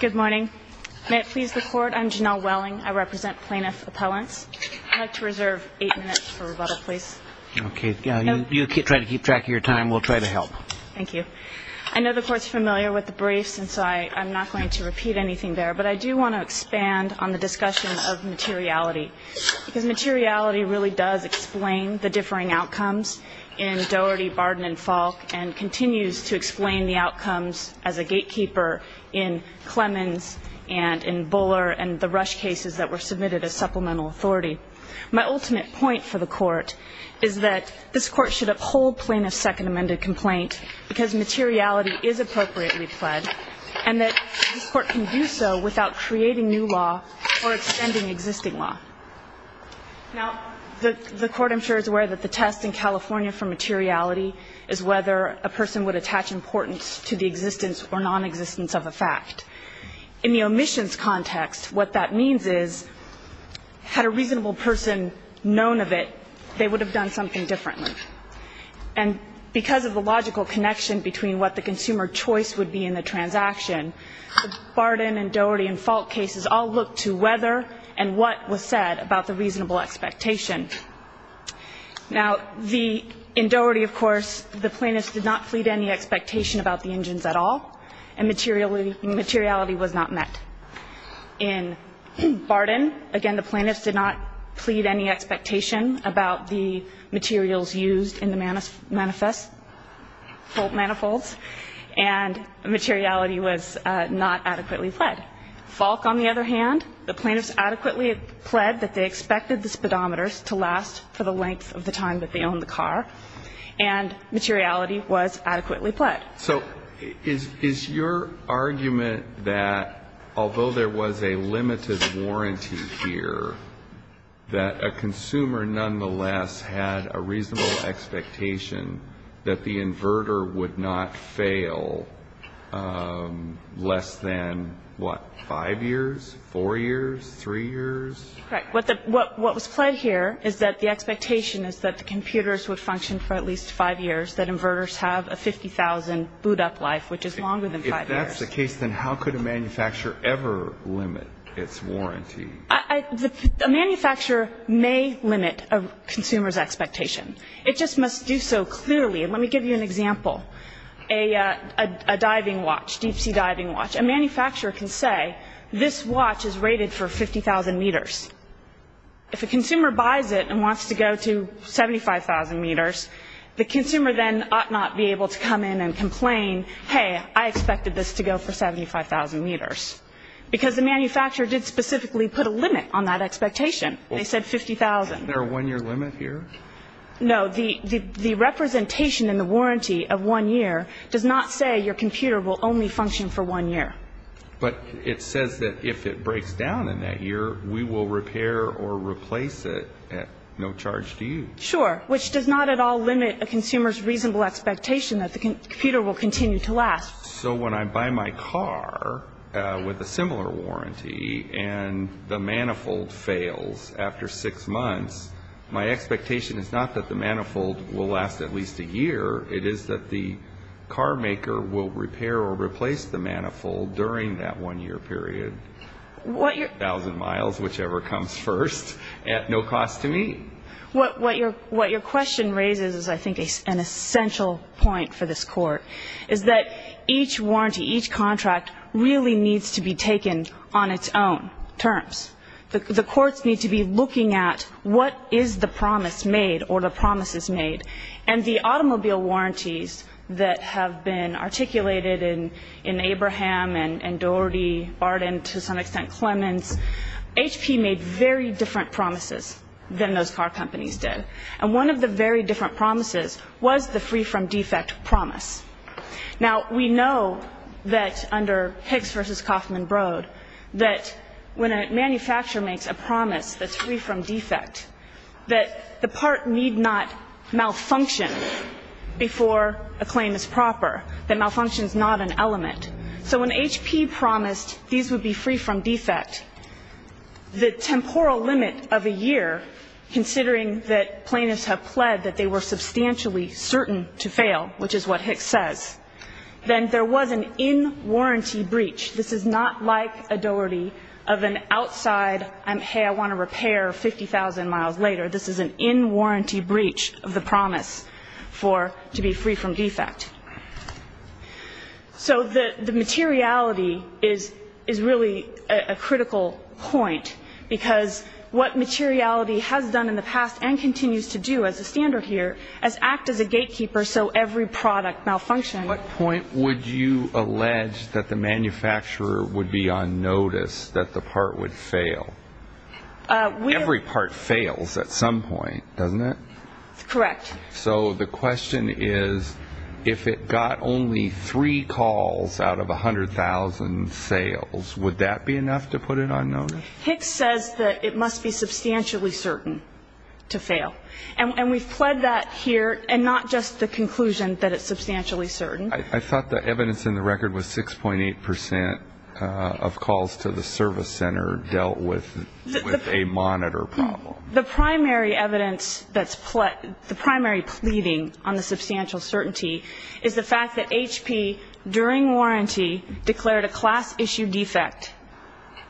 Good morning. May it please the Court, I'm Janelle Welling. I represent plaintiff appellants. I'd like to reserve eight minutes for rebuttal, please. Okay. You try to keep track of your time. We'll try to help. Thank you. I know the Court's familiar with the briefs, and so I'm not going to repeat anything there. But I do want to expand on the discussion of materiality, because materiality really does explain the differing outcomes in Doherty, and it does explain the outcomes as a gatekeeper in Clemens and in Buller and the Rush cases that were submitted as supplemental authority. My ultimate point for the Court is that this Court should uphold plaintiff's second amended complaint, because materiality is appropriately pled, and that this Court can do so without creating new law or extending existing law. Now, the Court, I'm sure, is aware that the test in California for materiality is whether a person would attach importance to the existence or nonexistence of a fact. In the omissions context, what that means is had a reasonable person known of it, they would have done something differently. And because of the logical connection between what the consumer choice would be in the transaction, Barden and Doherty and Falk cases all look to whether and what was said about the reasonable expectation. Now, in Doherty, of course, the plaintiffs did not plead any expectation about the engines at all, and materiality was not met. In Barden, again, the plaintiffs did not plead any expectation about the materials used in the manifest, Falk manifolds, and materiality was not adequately pled. Falk, on the other hand, the plaintiffs adequately pled that they expected the speedometers to last for the length of the time that they owned the car, and materiality was adequately pled. So is your argument that although there was a limited warranty here, that a consumer nonetheless had a reasonable expectation that the inverter would not fail less than, what, 5 years, 4 years, 3 years? Correct. What was pled here is that the expectation is that the computers would function for at least 5 years, that inverters have a 50,000 boot-up life, which is longer than 5 years. If that's the case, then how could a manufacturer ever limit its warranty? A manufacturer may limit a consumer's expectation. It just must do so clearly, and let me give you an example. A diving watch, deep-sea diving watch, a manufacturer can say, this watch is rated for 50,000 meters. If a consumer buys it and wants to go to 75,000 meters, the consumer then ought not be able to come in and complain, hey, I expected this to go for 75,000 meters, because the manufacturer did specifically put a limit on that expectation. They said 50,000. Isn't there a 1-year limit here? No. The representation in the warranty of 1 year does not say your computer will only function for 1 year. But it says that if it breaks down in that year, we will repair or replace it at no charge to you. Sure, which does not at all limit a consumer's reasonable expectation that the computer will continue to last. So when I buy my car with a similar warranty and the manifold fails after 6 months, my expectation is not that the manifold will last at least a year. It is that the carmaker will repair or replace the manifold during that 1-year period, 1,000 miles, whichever comes first, at no cost to me. What your question raises is, I think, an essential point for this Court, is that each warranty, each contract really needs to be taken on its own terms. The courts need to be looking at what is the promise made or the promises made. And the automobile warranties that have been articulated in Abraham and Doherty, Barden, to some extent Clemens, HP made very different promises than those car companies did. And one of the very different promises was the free-from-defect promise. Now, we know that under Hicks v. Kaufman-Broad, that when a manufacturer makes a promise that's free-from-defect, that the part need not malfunction before a claim is proper, that malfunction is not an element. So when HP promised these would be free-from-defect, the temporal limit of a year, considering that plaintiffs have pled that they were substantially certain to fail, which is what Hicks says, then there was an in-warranty breach. This is not like a Doherty of an outside, hey, I want to repair 50,000 miles later. This is an in-warranty breach of the promise to be free-from-defect. So the materiality is really a critical point because what materiality has done in the past and continues to do as a standard here is act as a gatekeeper so every product malfunctions. At what point would you allege that the manufacturer would be on notice that the part would fail? Every part fails at some point, doesn't it? Correct. So the question is, if it got only three calls out of 100,000 sales, would that be enough to put it on notice? Hicks says that it must be substantially certain to fail. And we've pled that here, and not just the conclusion that it's substantially certain. I thought the evidence in the record was 6.8 percent of calls to the service center dealt with a monitor problem. The primary evidence that's the primary pleading on the substantial certainty is the fact that HP, during warranty, declared a class-issue defect,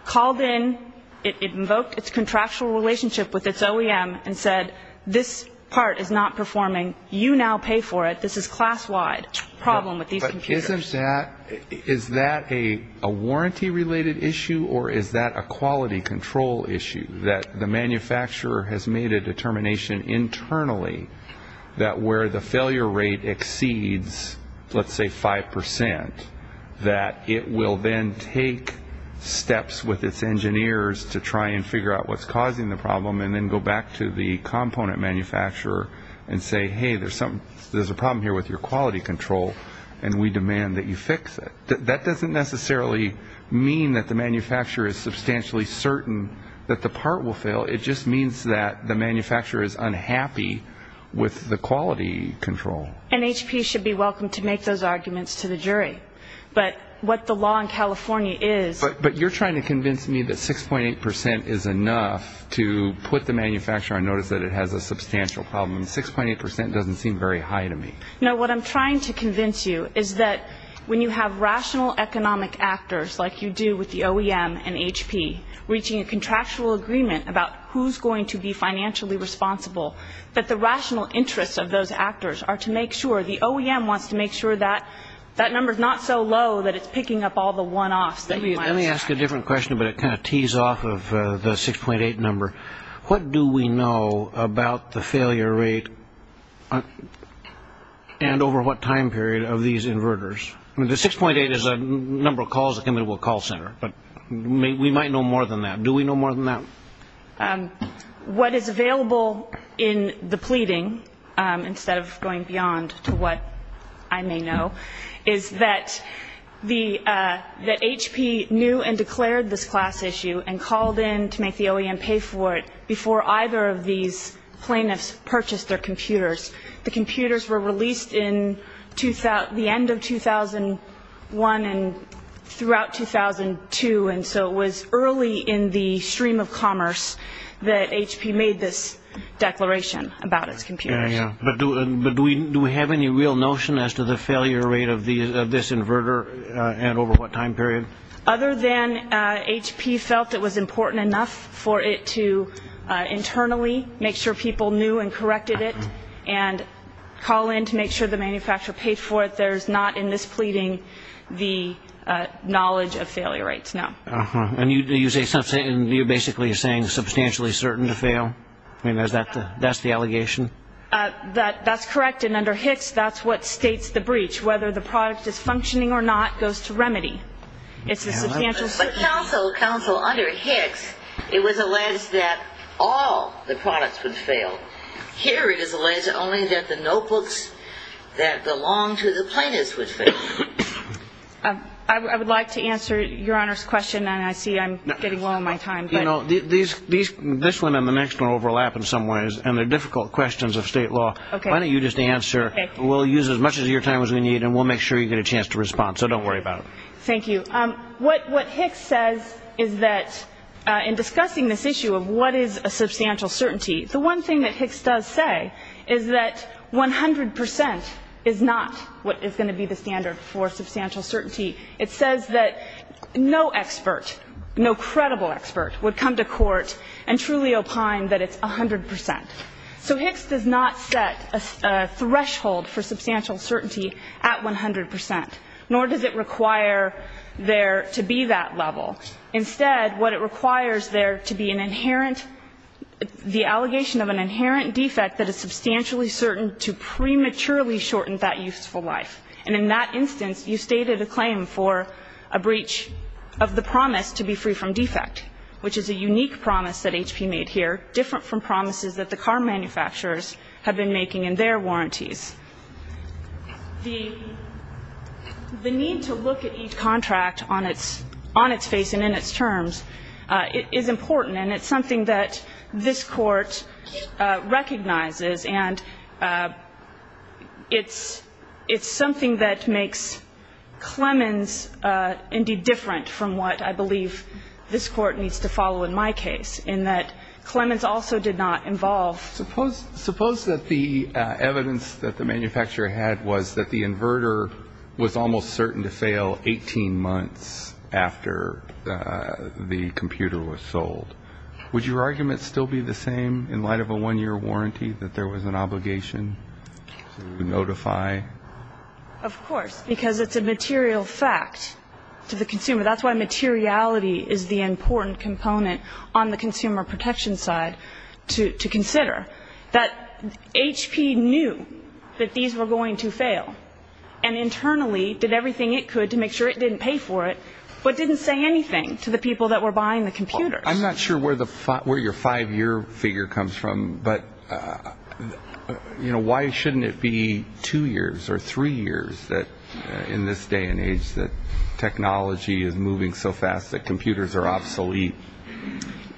called in, it invoked its contractual relationship with its OEM and said, this part is not performing. You now pay for it. This is class-wide problem with these computers. But is that a warranty-related issue, or is that a quality control issue that the manufacturer has made a determination internally that where the failure rate exceeds, let's say, 5 percent, that it will then take steps with its engineers to try and figure out what's causing the problem and then go back to the component manufacturer and say, hey, there's a problem here with your quality control, and we demand that you fix it. That doesn't necessarily mean that the manufacturer is substantially certain that the part will fail. It just means that the manufacturer is unhappy with the quality control. And HP should be welcome to make those arguments to the jury. But what the law in California is – But you're trying to convince me that 6.8 percent is enough to put the manufacturer on notice that it has a substantial problem. 6.8 percent doesn't seem very high to me. No, what I'm trying to convince you is that when you have rational economic actors like you do with the OEM and HP, reaching a contractual agreement about who's going to be financially responsible, that the rational interests of those actors are to make sure – the OEM wants to make sure that that number's not so low that it's picking up all the one-offs that you might expect. Let me ask a different question, but it kind of tees off of the 6.8 number. What do we know about the failure rate and over what time period of these inverters? I mean, the 6.8 is the number of calls that come into a call center, but we might know more than that. Do we know more than that? What is available in the pleading, instead of going beyond to what I may know, is that HP knew and declared this class issue and called in to make the OEM pay for it before either of these plaintiffs purchased their computers. The computers were released in the end of 2001 and throughout 2002, and so it was early in the stream of commerce that HP made this declaration about its computers. But do we have any real notion as to the failure rate of this inverter and over what time period? Other than HP felt it was important enough for it to internally make sure people knew and corrected it and call in to make sure the manufacturer paid for it, there's not in this pleading the knowledge of failure rates, no. And you're basically saying substantially certain to fail? I mean, that's the allegation? That's correct, and under Hicks, that's what states the breach. Whether the product is functioning or not goes to remedy. But counsel, under Hicks, it was alleged that all the products would fail. Here it is alleged only that the notebooks that belonged to the plaintiffs would fail. I would like to answer Your Honor's question, and I see I'm getting low on my time. You know, this one and the next one overlap in some ways, and they're difficult questions of state law. Why don't you just answer? We'll use as much of your time as we need, and we'll make sure you get a chance to respond, so don't worry about it. Thank you. What Hicks says is that in discussing this issue of what is a substantial certainty, the one thing that Hicks does say is that 100 percent is not what is going to be the standard for substantial certainty. It says that no expert, no credible expert, would come to court and truly opine that it's 100 percent. So Hicks does not set a threshold for substantial certainty at 100 percent, nor does it require there to be that level. Instead, what it requires there to be an inherent, the allegation of an inherent defect that is substantially certain to prematurely shorten that useful life. And in that instance, you stated a claim for a breach of the promise to be free from defect, which is a unique promise that HP made here, different from promises that the car manufacturers have been making in their warranties. The need to look at each contract on its face and in its terms is important, and it's something that this Court recognizes. And it's something that makes Clemens indeed different from what I believe this Court needs to follow in my case, in that Clemens also did not involve in a breach of the promise. Suppose that the evidence that the manufacturer had was that the inverter was almost certain to fail 18 months after the computer was sold. Would your argument still be the same in light of a one-year warranty, that there was an obligation to notify? Of course, because it's a material fact to the consumer. That's why materiality is the important component on the consumer protection side to consider. That HP knew that these were going to fail, and internally did everything it could to make sure it didn't pay for it, but didn't say anything to the people that were buying the computers. I'm not sure where your five-year figure comes from, but, you know, why shouldn't it be two years or three years in this day and age that technology is not moving so fast that computers are obsolete?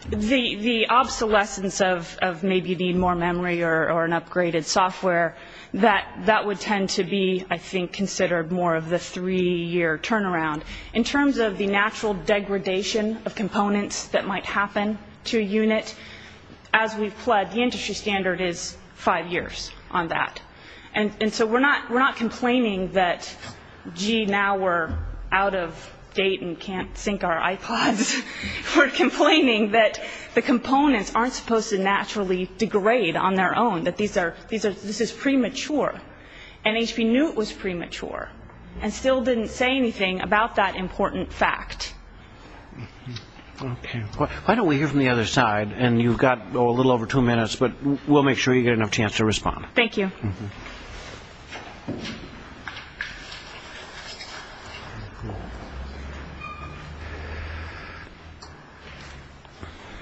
The obsolescence of maybe you need more memory or an upgraded software, that would tend to be, I think, considered more of the three-year turnaround. In terms of the natural degradation of components that might happen to a unit, as we've pledged, the industry standard is five years on that. And so we're not complaining that, gee, now we're out of date and can't sync our iPods. We're complaining that the components aren't supposed to naturally degrade on their own, that this is premature. And HP knew it was premature, and still didn't say anything about that important fact. Okay. Why don't we hear from the other side? And you've got a little over two minutes, but we'll make sure you get enough chance to respond. Thank you.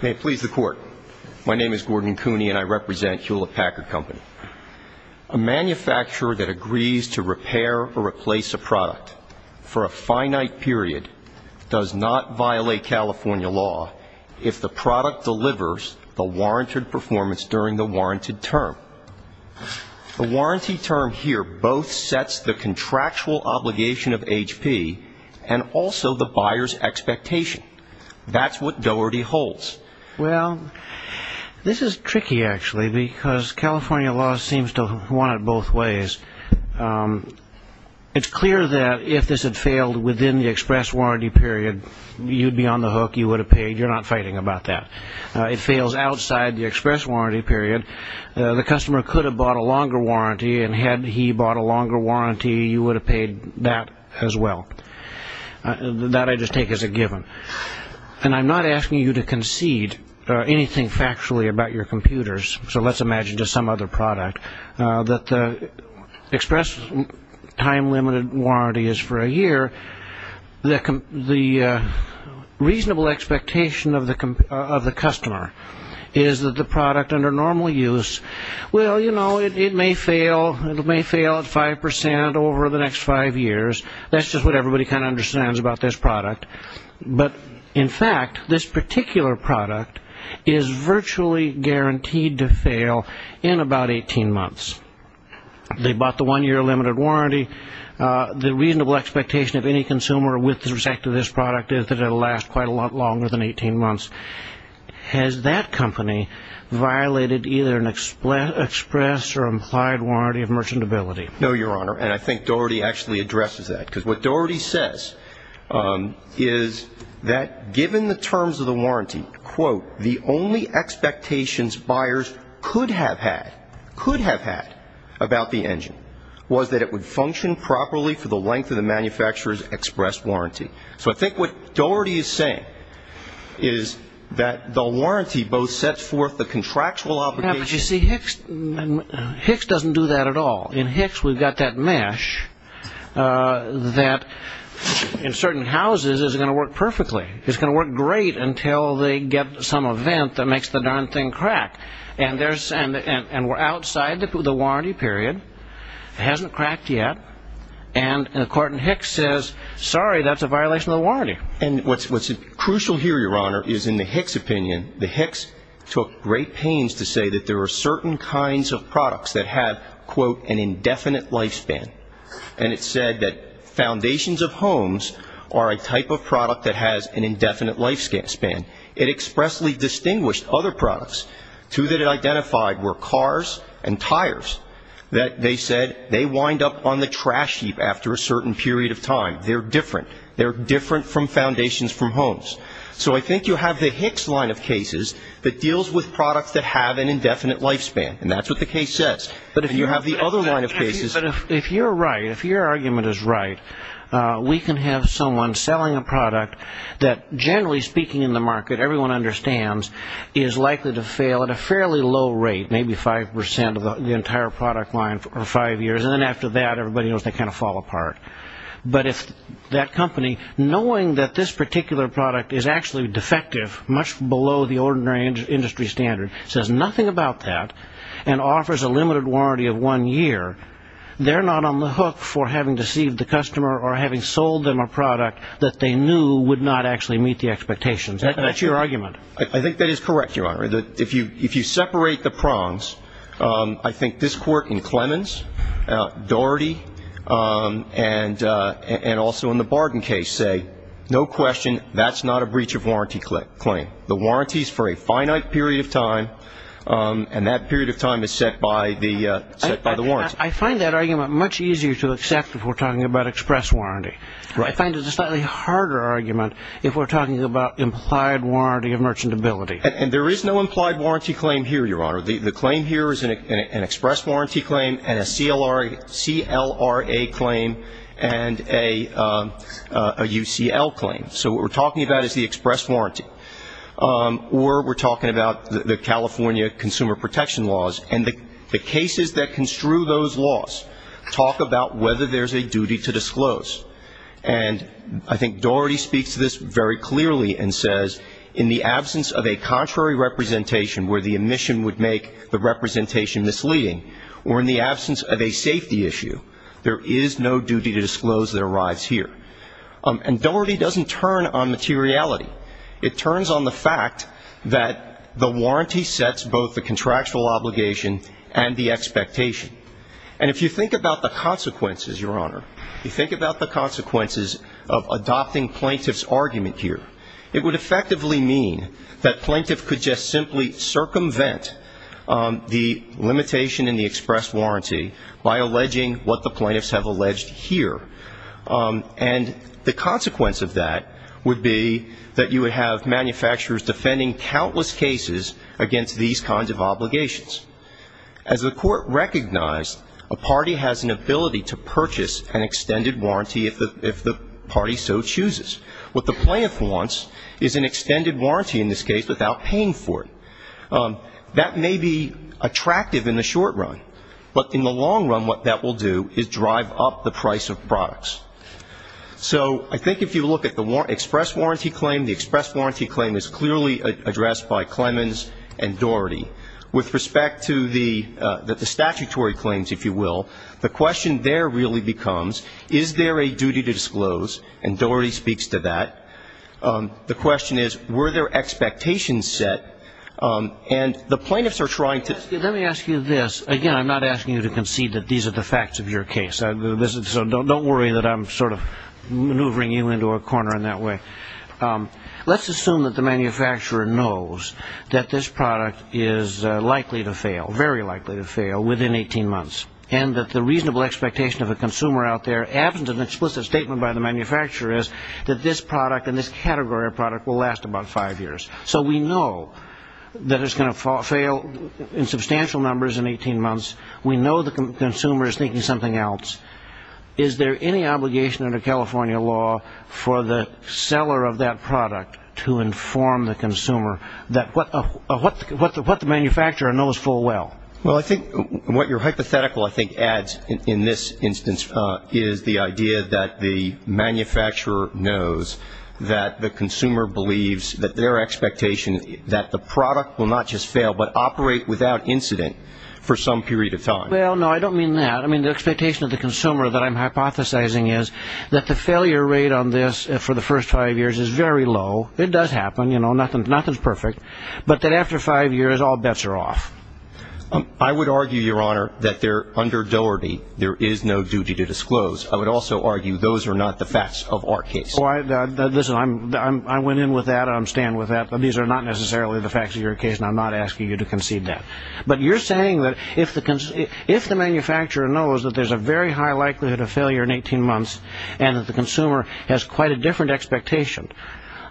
May it please the Court. My name is Gordon Cooney, and I represent Hewlett Packard Company. A manufacturer that agrees to repair or replace a product for a finite period does not violate California law if the product delivers the warranted performance during the warranted term. The warranty term here both sets the contractual obligation of HP and also the buyer's expectation. That's what Doherty holds. Well, this is tricky, actually, because California law seems to want it both ways. It's clear that if this had failed within the express warranty period, you'd be on the hook, you would have paid, you're not fighting about that. If it fails outside the express warranty period, the customer could have bought a longer warranty, and had he bought a longer warranty, you would have paid that as well. That I just take as a given. And I'm not asking you to concede anything factually about your computers, so let's imagine just some other product, that the express time-limited warranty is for a year. The reasonable expectation of the customer is that the product under normal use, well, you know, it may fail, it may fail at 5% over the next five years, that's just what everybody kind of understands about this product. But, in fact, this particular product is virtually guaranteed to fail in about 18 months. They bought the one-year limited warranty, the reasonable expectation of any consumer with respect to this product is that it will last quite a lot longer than 18 months. Has that company violated either an express or implied warranty of merchantability? No, Your Honor, and I think Doherty actually addresses that, because what Doherty says is that given the terms of the warranty, quote, the only expectations buyers could have had about the engine was that it would function properly for the length of the manufacturer's express warranty. So I think what Doherty is saying is that the warranty both sets forth the contractual obligation... Yeah, but you see, Hicks doesn't do that at all. In Hicks, we've got that mesh that in certain houses isn't going to work perfectly. It's going to work great until they get some event that makes the darn thing crack. And we're outside the warranty period, it hasn't cracked yet, and the court in Hicks says, sorry, that's a violation of the warranty. And what's crucial here, Your Honor, is in the Hicks opinion, the Hicks took great pains to say that there are certain kinds of products that have, quote, an indefinite lifespan, and it said that foundations of homes are a type of product that has an indefinite lifespan. It expressly distinguished other products, two that it identified were cars and tires, that they said they wind up on the trash heap after a certain period of time. They're different. They're different from foundations from homes. So I think you have the Hicks line of cases that deals with products that have an indefinite lifespan, and that's what the case says. But if you have the other line of cases... But if you're right, if your argument is right, we can have someone selling a product that, generally speaking in the market, everyone understands, is likely to fail at a fairly low rate, maybe 5% of the entire product line for five years, and then after that, everybody knows they kind of fall apart. But if that company, knowing that this particular product is actually defective, much below the ordinary industry standard, says nothing about that, and offers a limited warranty of one year, they're not on the hook for having deceived the customer or having sold them a product that they knew would not actually meet the expectations. That's your argument. I think that is correct, Your Honor. If you separate the prongs, I think this Court in Clemens, Doherty, and also in the Barden case say, no question, that's not a breach of warranty claim. The warranty is for a finite period of time, and that period of time is set by the warranty. I find that argument much easier to accept if we're talking about express warranty. I find it a slightly harder argument if we're talking about implied warranty of merchantability. And there is no implied warranty claim here, Your Honor. The claim here is an express warranty claim and a CLRA claim and a UCL claim. So what we're talking about is the express warranty. Or we're talking about the California consumer protection laws, and the cases that construe those laws talk about whether there's a duty to disclose. And I think Doherty speaks to this very clearly and says, in the absence of a contrary representation where the omission would make the representation misleading, or in the absence of a safety issue, there is no duty to disclose that arrives here. And Doherty doesn't turn on materiality. It turns on the fact that the warranty sets both the contractual obligation and the expectation. And if you think about the consequences, Your Honor, you think about the consequences of adopting plaintiff's argument here, it would effectively mean that plaintiff could just simply circumvent the limitation in the express warranty by alleging what the plaintiffs have alleged here. And the consequence of that would be that you would have manufacturers defending countless cases against these kinds of obligations. As the Court recognized, a party has an ability to purchase an extended warranty if the party so chooses. What the plaintiff wants is an extended warranty in this case without paying for it. That may be attractive in the short run, but in the long run what that will do is drive up the price of products. So I think if you look at the express warranty claim, the express warranty claim is clearly addressed by Clemens and Doherty. With respect to the statutory claims, if you will, the question there really becomes, is there a duty to disclose? And Doherty speaks to that. The question is, were there expectations set? And the plaintiffs are trying to ---- Let me ask you this. Again, I'm not asking you to concede that these are the facts of your case. So don't worry that I'm sort of maneuvering you into a corner in that way. Let's assume that the manufacturer knows that this product is likely to fail, very likely to fail, within 18 months. And that the reasonable expectation of a consumer out there, absent an explicit statement by the manufacturer, is that this product and this category of product will last about five years. So we know that it's going to fail in substantial numbers in 18 months. We know the consumer is thinking something else. Is there any obligation under California law for the seller of that product to inform the consumer that what the manufacturer knows full well? Well, I think what your hypothetical, I think, adds in this instance is the idea that the manufacturer knows that the consumer believes that their expectation is that the product will not just fail, but operate without incident for some period of time. Well, no, I don't mean that. I mean, the expectation of the consumer that I'm hypothesizing is that the failure rate on this for the first five years is very low. It does happen. You know, nothing's perfect. But that after five years, all bets are off. I would argue, Your Honor, that under Doherty, there is no duty to disclose. I would also argue those are not the facts of our case. Well, listen, I went in with that. I'm staying with that. These are not necessarily the facts of your case, and I'm not asking you to concede that. But you're saying that if the manufacturer knows that there's a very high likelihood of failure in 18 months, and that the consumer has quite a different expectation,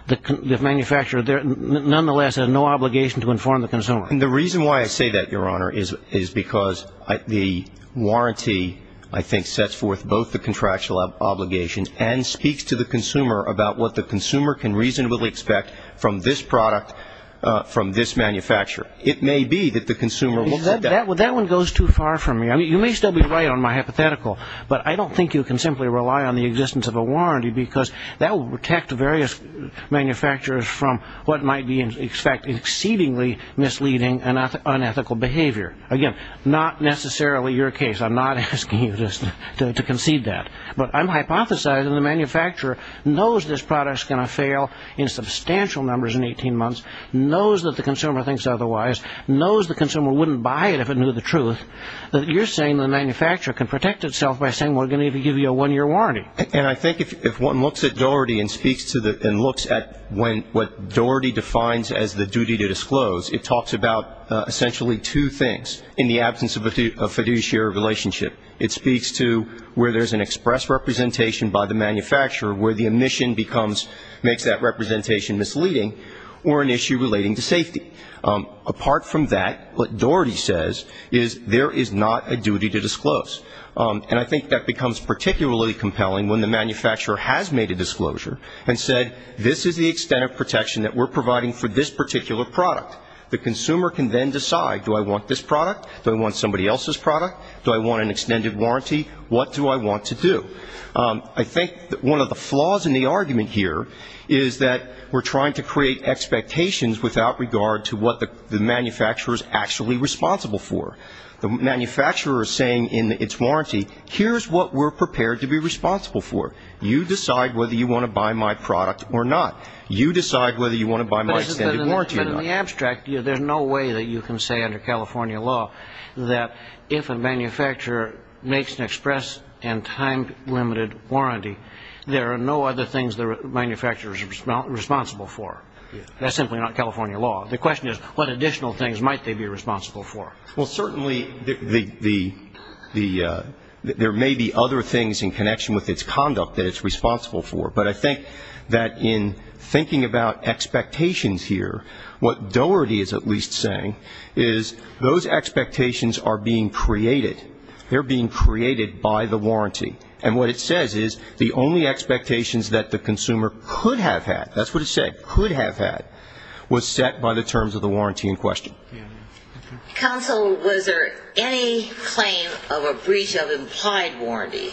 the manufacturer, nonetheless, has no obligation to inform the consumer. And the reason why I say that, Your Honor, is because the warranty, I think, sets forth both the contractual obligations and speaks to the consumer about what the consumer can reasonably expect from this product, from this manufacturer. It may be that the consumer will see that. That one goes too far for me. I mean, you may still be right on my hypothetical, but I don't think you can simply rely on the existence of a warranty, because that will protect various manufacturers from what might be, in fact, exceedingly misleading and unethical behavior. Again, not necessarily your case. I'm not asking you to concede that. But I'm hypothesizing the manufacturer knows this product's going to fail in substantial numbers in 18 months, knows that the consumer thinks otherwise, knows the consumer wouldn't buy it if it knew the truth, that you're saying the manufacturer can protect itself by saying, well, we're going to give you a one-year warranty. And I think if one looks at Doherty and looks at what Doherty defines as the duty to disclose, it talks about essentially two things in the absence of a fiduciary relationship. It speaks to where there's an express representation by the manufacturer where the omission becomes, makes that representation misleading or an issue relating to safety. Apart from that, what Doherty says is there is not a duty to disclose. And I think that becomes particularly compelling when the manufacturer has made a disclosure and said, this is the extent of protection that we're providing for this particular product. The consumer can then decide, do I want this product? Do I want somebody else's product? Do I want an extended warranty? What do I want to do? I think one of the flaws in the argument here is that we're trying to create expectations without regard to what the manufacturer is actually responsible for. The manufacturer is saying in its warranty, here's what we're prepared to be responsible for. You decide whether you want to buy my product or not. You decide whether you want to buy my extended warranty or not. But in the abstract, there's no way that you can say under California law that if a manufacturer makes an express and time-limited warranty, there are no other things the manufacturer is responsible for. That's simply not California law. The question is, what additional things might they be responsible for? Well, certainly there may be other things in connection with its conduct that it's responsible for. But I think that in thinking about expectations here, what Doherty is at least saying is, those expectations are being created. They're being created by the warranty. And what it says is, the only expectations that the consumer could have had, that's what it said, could have had, was set by the terms of the warranty in question. Counsel, was there any claim of a breach of implied warranty?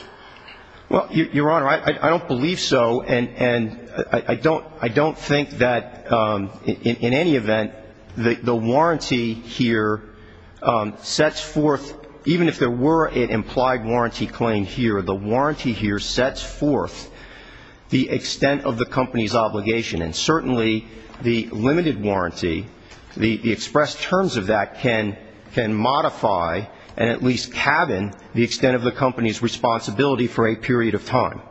Well, Your Honor, I don't believe so. And I don't think that in any event the warranty here sets forth, even if there were an implied warranty claim here, the warranty here sets forth the extent of the company's obligation. And certainly the limited warranty, the express terms of that, can modify and at least cabin the extent of the company's responsibility for a period of time.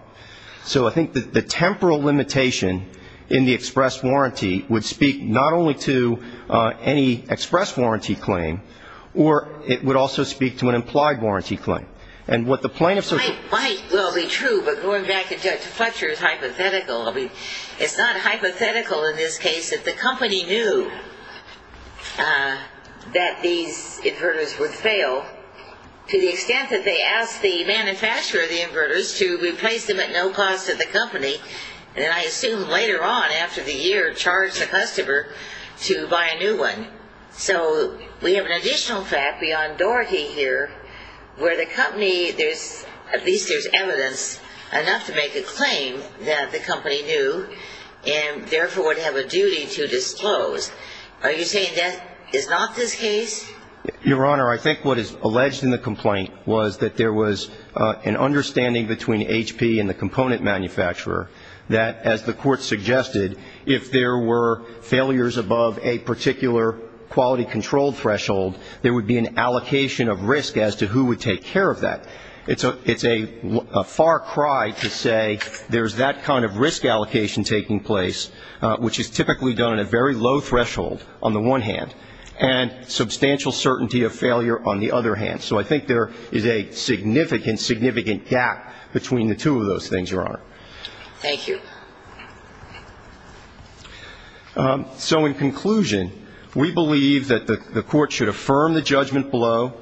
So I think that the temporal limitation in the express warranty would speak not only to any express warranty claim, or it would also speak to an implied warranty claim. And what the plaintiff says to me ---- It might well be true, but going back to Fletcher's hypothetical, it's not hypothetical in this case that the company knew that these inverters would fail to the extent that they asked the manufacturer of the inverters to replace them at no cost to the company, and then I assume later on after the year charged the customer to buy a new one. So we have an additional fact beyond Doherty here where the company, at least there's evidence enough to make a claim that the company knew and therefore would have a duty to disclose. Are you saying that is not this case? Your Honor, I think what is alleged in the complaint was that there was an understanding between HP and the component manufacturer that, as the court suggested, if there were failures above a particular quality control threshold, there would be an allocation of risk as to who would take care of that. It's a far cry to say there's that kind of risk allocation taking place, which is typically done at a very low threshold on the one hand, and substantial certainty of failure on the other hand. So I think there is a significant, significant gap between the two of those things, Your Honor. Thank you. So in conclusion, we believe that the court should affirm the judgment below.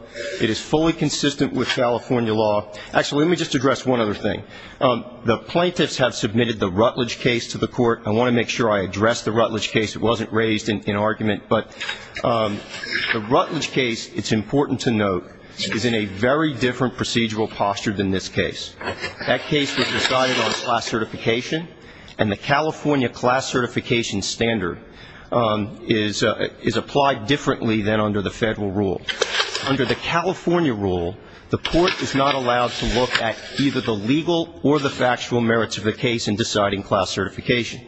It is fully consistent with California law. Actually, let me just address one other thing. The plaintiffs have submitted the Rutledge case to the court. I want to make sure I address the Rutledge case. It wasn't raised in argument. But the Rutledge case, it's important to note, is in a very different procedural posture than this case. That case was decided on class certification, and the California class certification standard is applied differently than under the federal rule. Under the California rule, the court is not allowed to look at either the legal or the factual merits of the case in deciding class certification.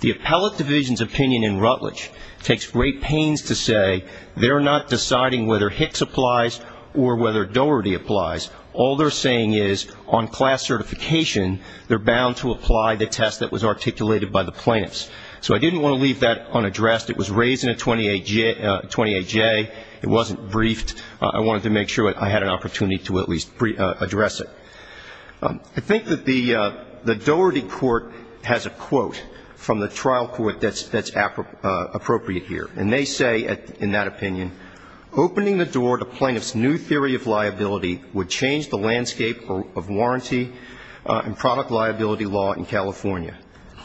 The appellate division's opinion in Rutledge takes great pains to say they're not deciding whether Hicks applies or whether Doherty applies. All they're saying is on class certification, they're bound to apply the test that was articulated by the plaintiffs. So I didn't want to leave that unaddressed. It was raised in a 28J. It wasn't briefed. I wanted to make sure I had an opportunity to at least address it. I think that the Doherty court has a quote from the trial court that's appropriate here, and they say in that opinion, opening the door to plaintiffs' new theory of liability would change the landscape of warranty and product liability law in California.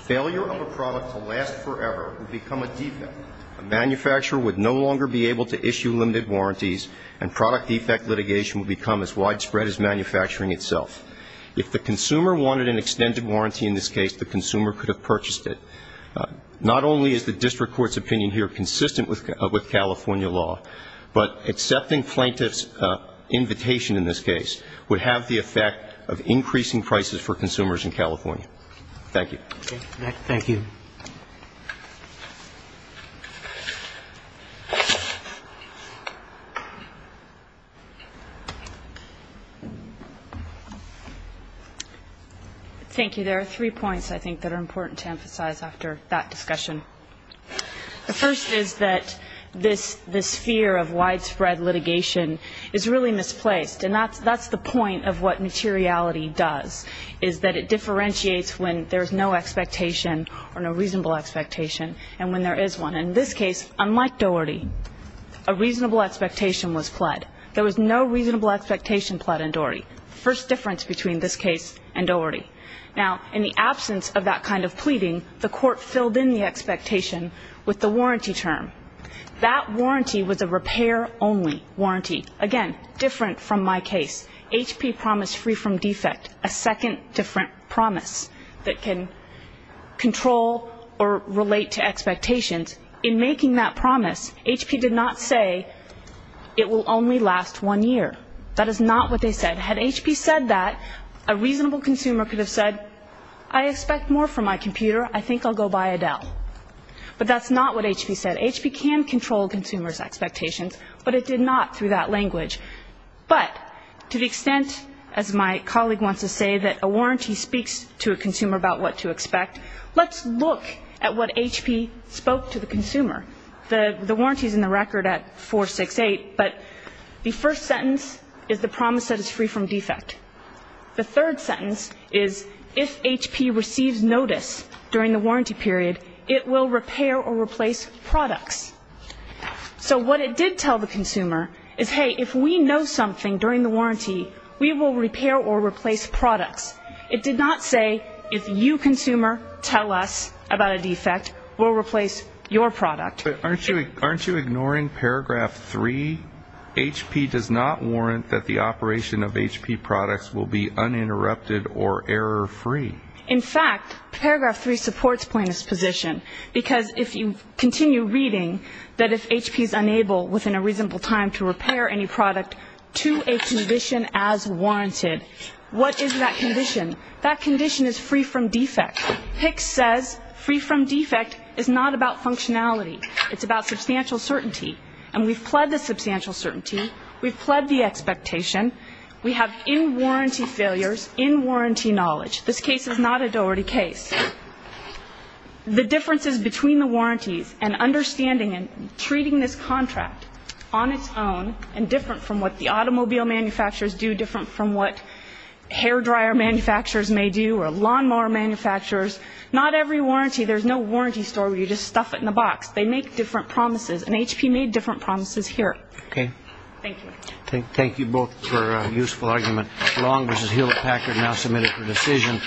Failure of a product to last forever would become a defect. A manufacturer would no longer be able to issue limited warranties, and product defect litigation would become as widespread as manufacturing itself. If the consumer wanted an extended warranty in this case, the consumer could have purchased it. Not only is the district court's opinion here consistent with California law, but accepting plaintiffs' invitation in this case would have the effect of increasing prices for consumers in California. Thank you. Thank you. Thank you. There are three points I think that are important to emphasize after that discussion. The first is that this fear of widespread litigation is really misplaced, and that's the point of what materiality does, is that it differentiates when there's no expectation or no reasonable expectation and when there is one. In this case, unlike Doherty, a reasonable expectation was pled. There was no reasonable expectation pled in Doherty. First difference between this case and Doherty. Now, in the absence of that kind of pleading, the court filled in the expectation with the warranty term. That warranty was a repair-only warranty. Again, different from my case. H.P. promised free from defect, a second different promise that can control or relate to expectations. In making that promise, H.P. did not say it will only last one year. That is not what they said. Had H.P. said that, a reasonable consumer could have said, I expect more from my computer. I think I'll go buy a Dell. But that's not what H.P. said. H.P. can control consumers' expectations, but it did not through that language. But to the extent, as my colleague wants to say, that a warranty speaks to a consumer about what to expect, let's look at what H.P. spoke to the consumer. The warranty is in the record at 468, but the first sentence is the promise that it's free from defect. The third sentence is, if H.P. receives notice during the warranty period, it will repair or replace products. So what it did tell the consumer is, hey, if we know something during the warranty, we will repair or replace products. It did not say, if you, consumer, tell us about a defect, we'll replace your product. But aren't you ignoring paragraph 3? H.P. does not warrant that the operation of H.P. products will be uninterrupted or error-free. In fact, paragraph 3 supports plaintiff's position, because if you continue reading that if H.P. is unable, within a reasonable time, to repair any product to a condition as warranted, what is that condition? That condition is free from defect. H.P. says free from defect is not about functionality. It's about substantial certainty. And we've pled the substantial certainty. We've pled the expectation. We have in-warranty failures, in-warranty knowledge. This case is not a Doherty case. The differences between the warranties and understanding and treating this contract on its own and different from what the automobile manufacturers do, different from what hair dryer manufacturers may do or lawnmower manufacturers, not every warranty, there's no warranty store where you just stuff it in a box. They make different promises, and H.P. made different promises here. Thank you. Thank you both for a useful argument. Long v. Hewlett-Packard now submitted for decision.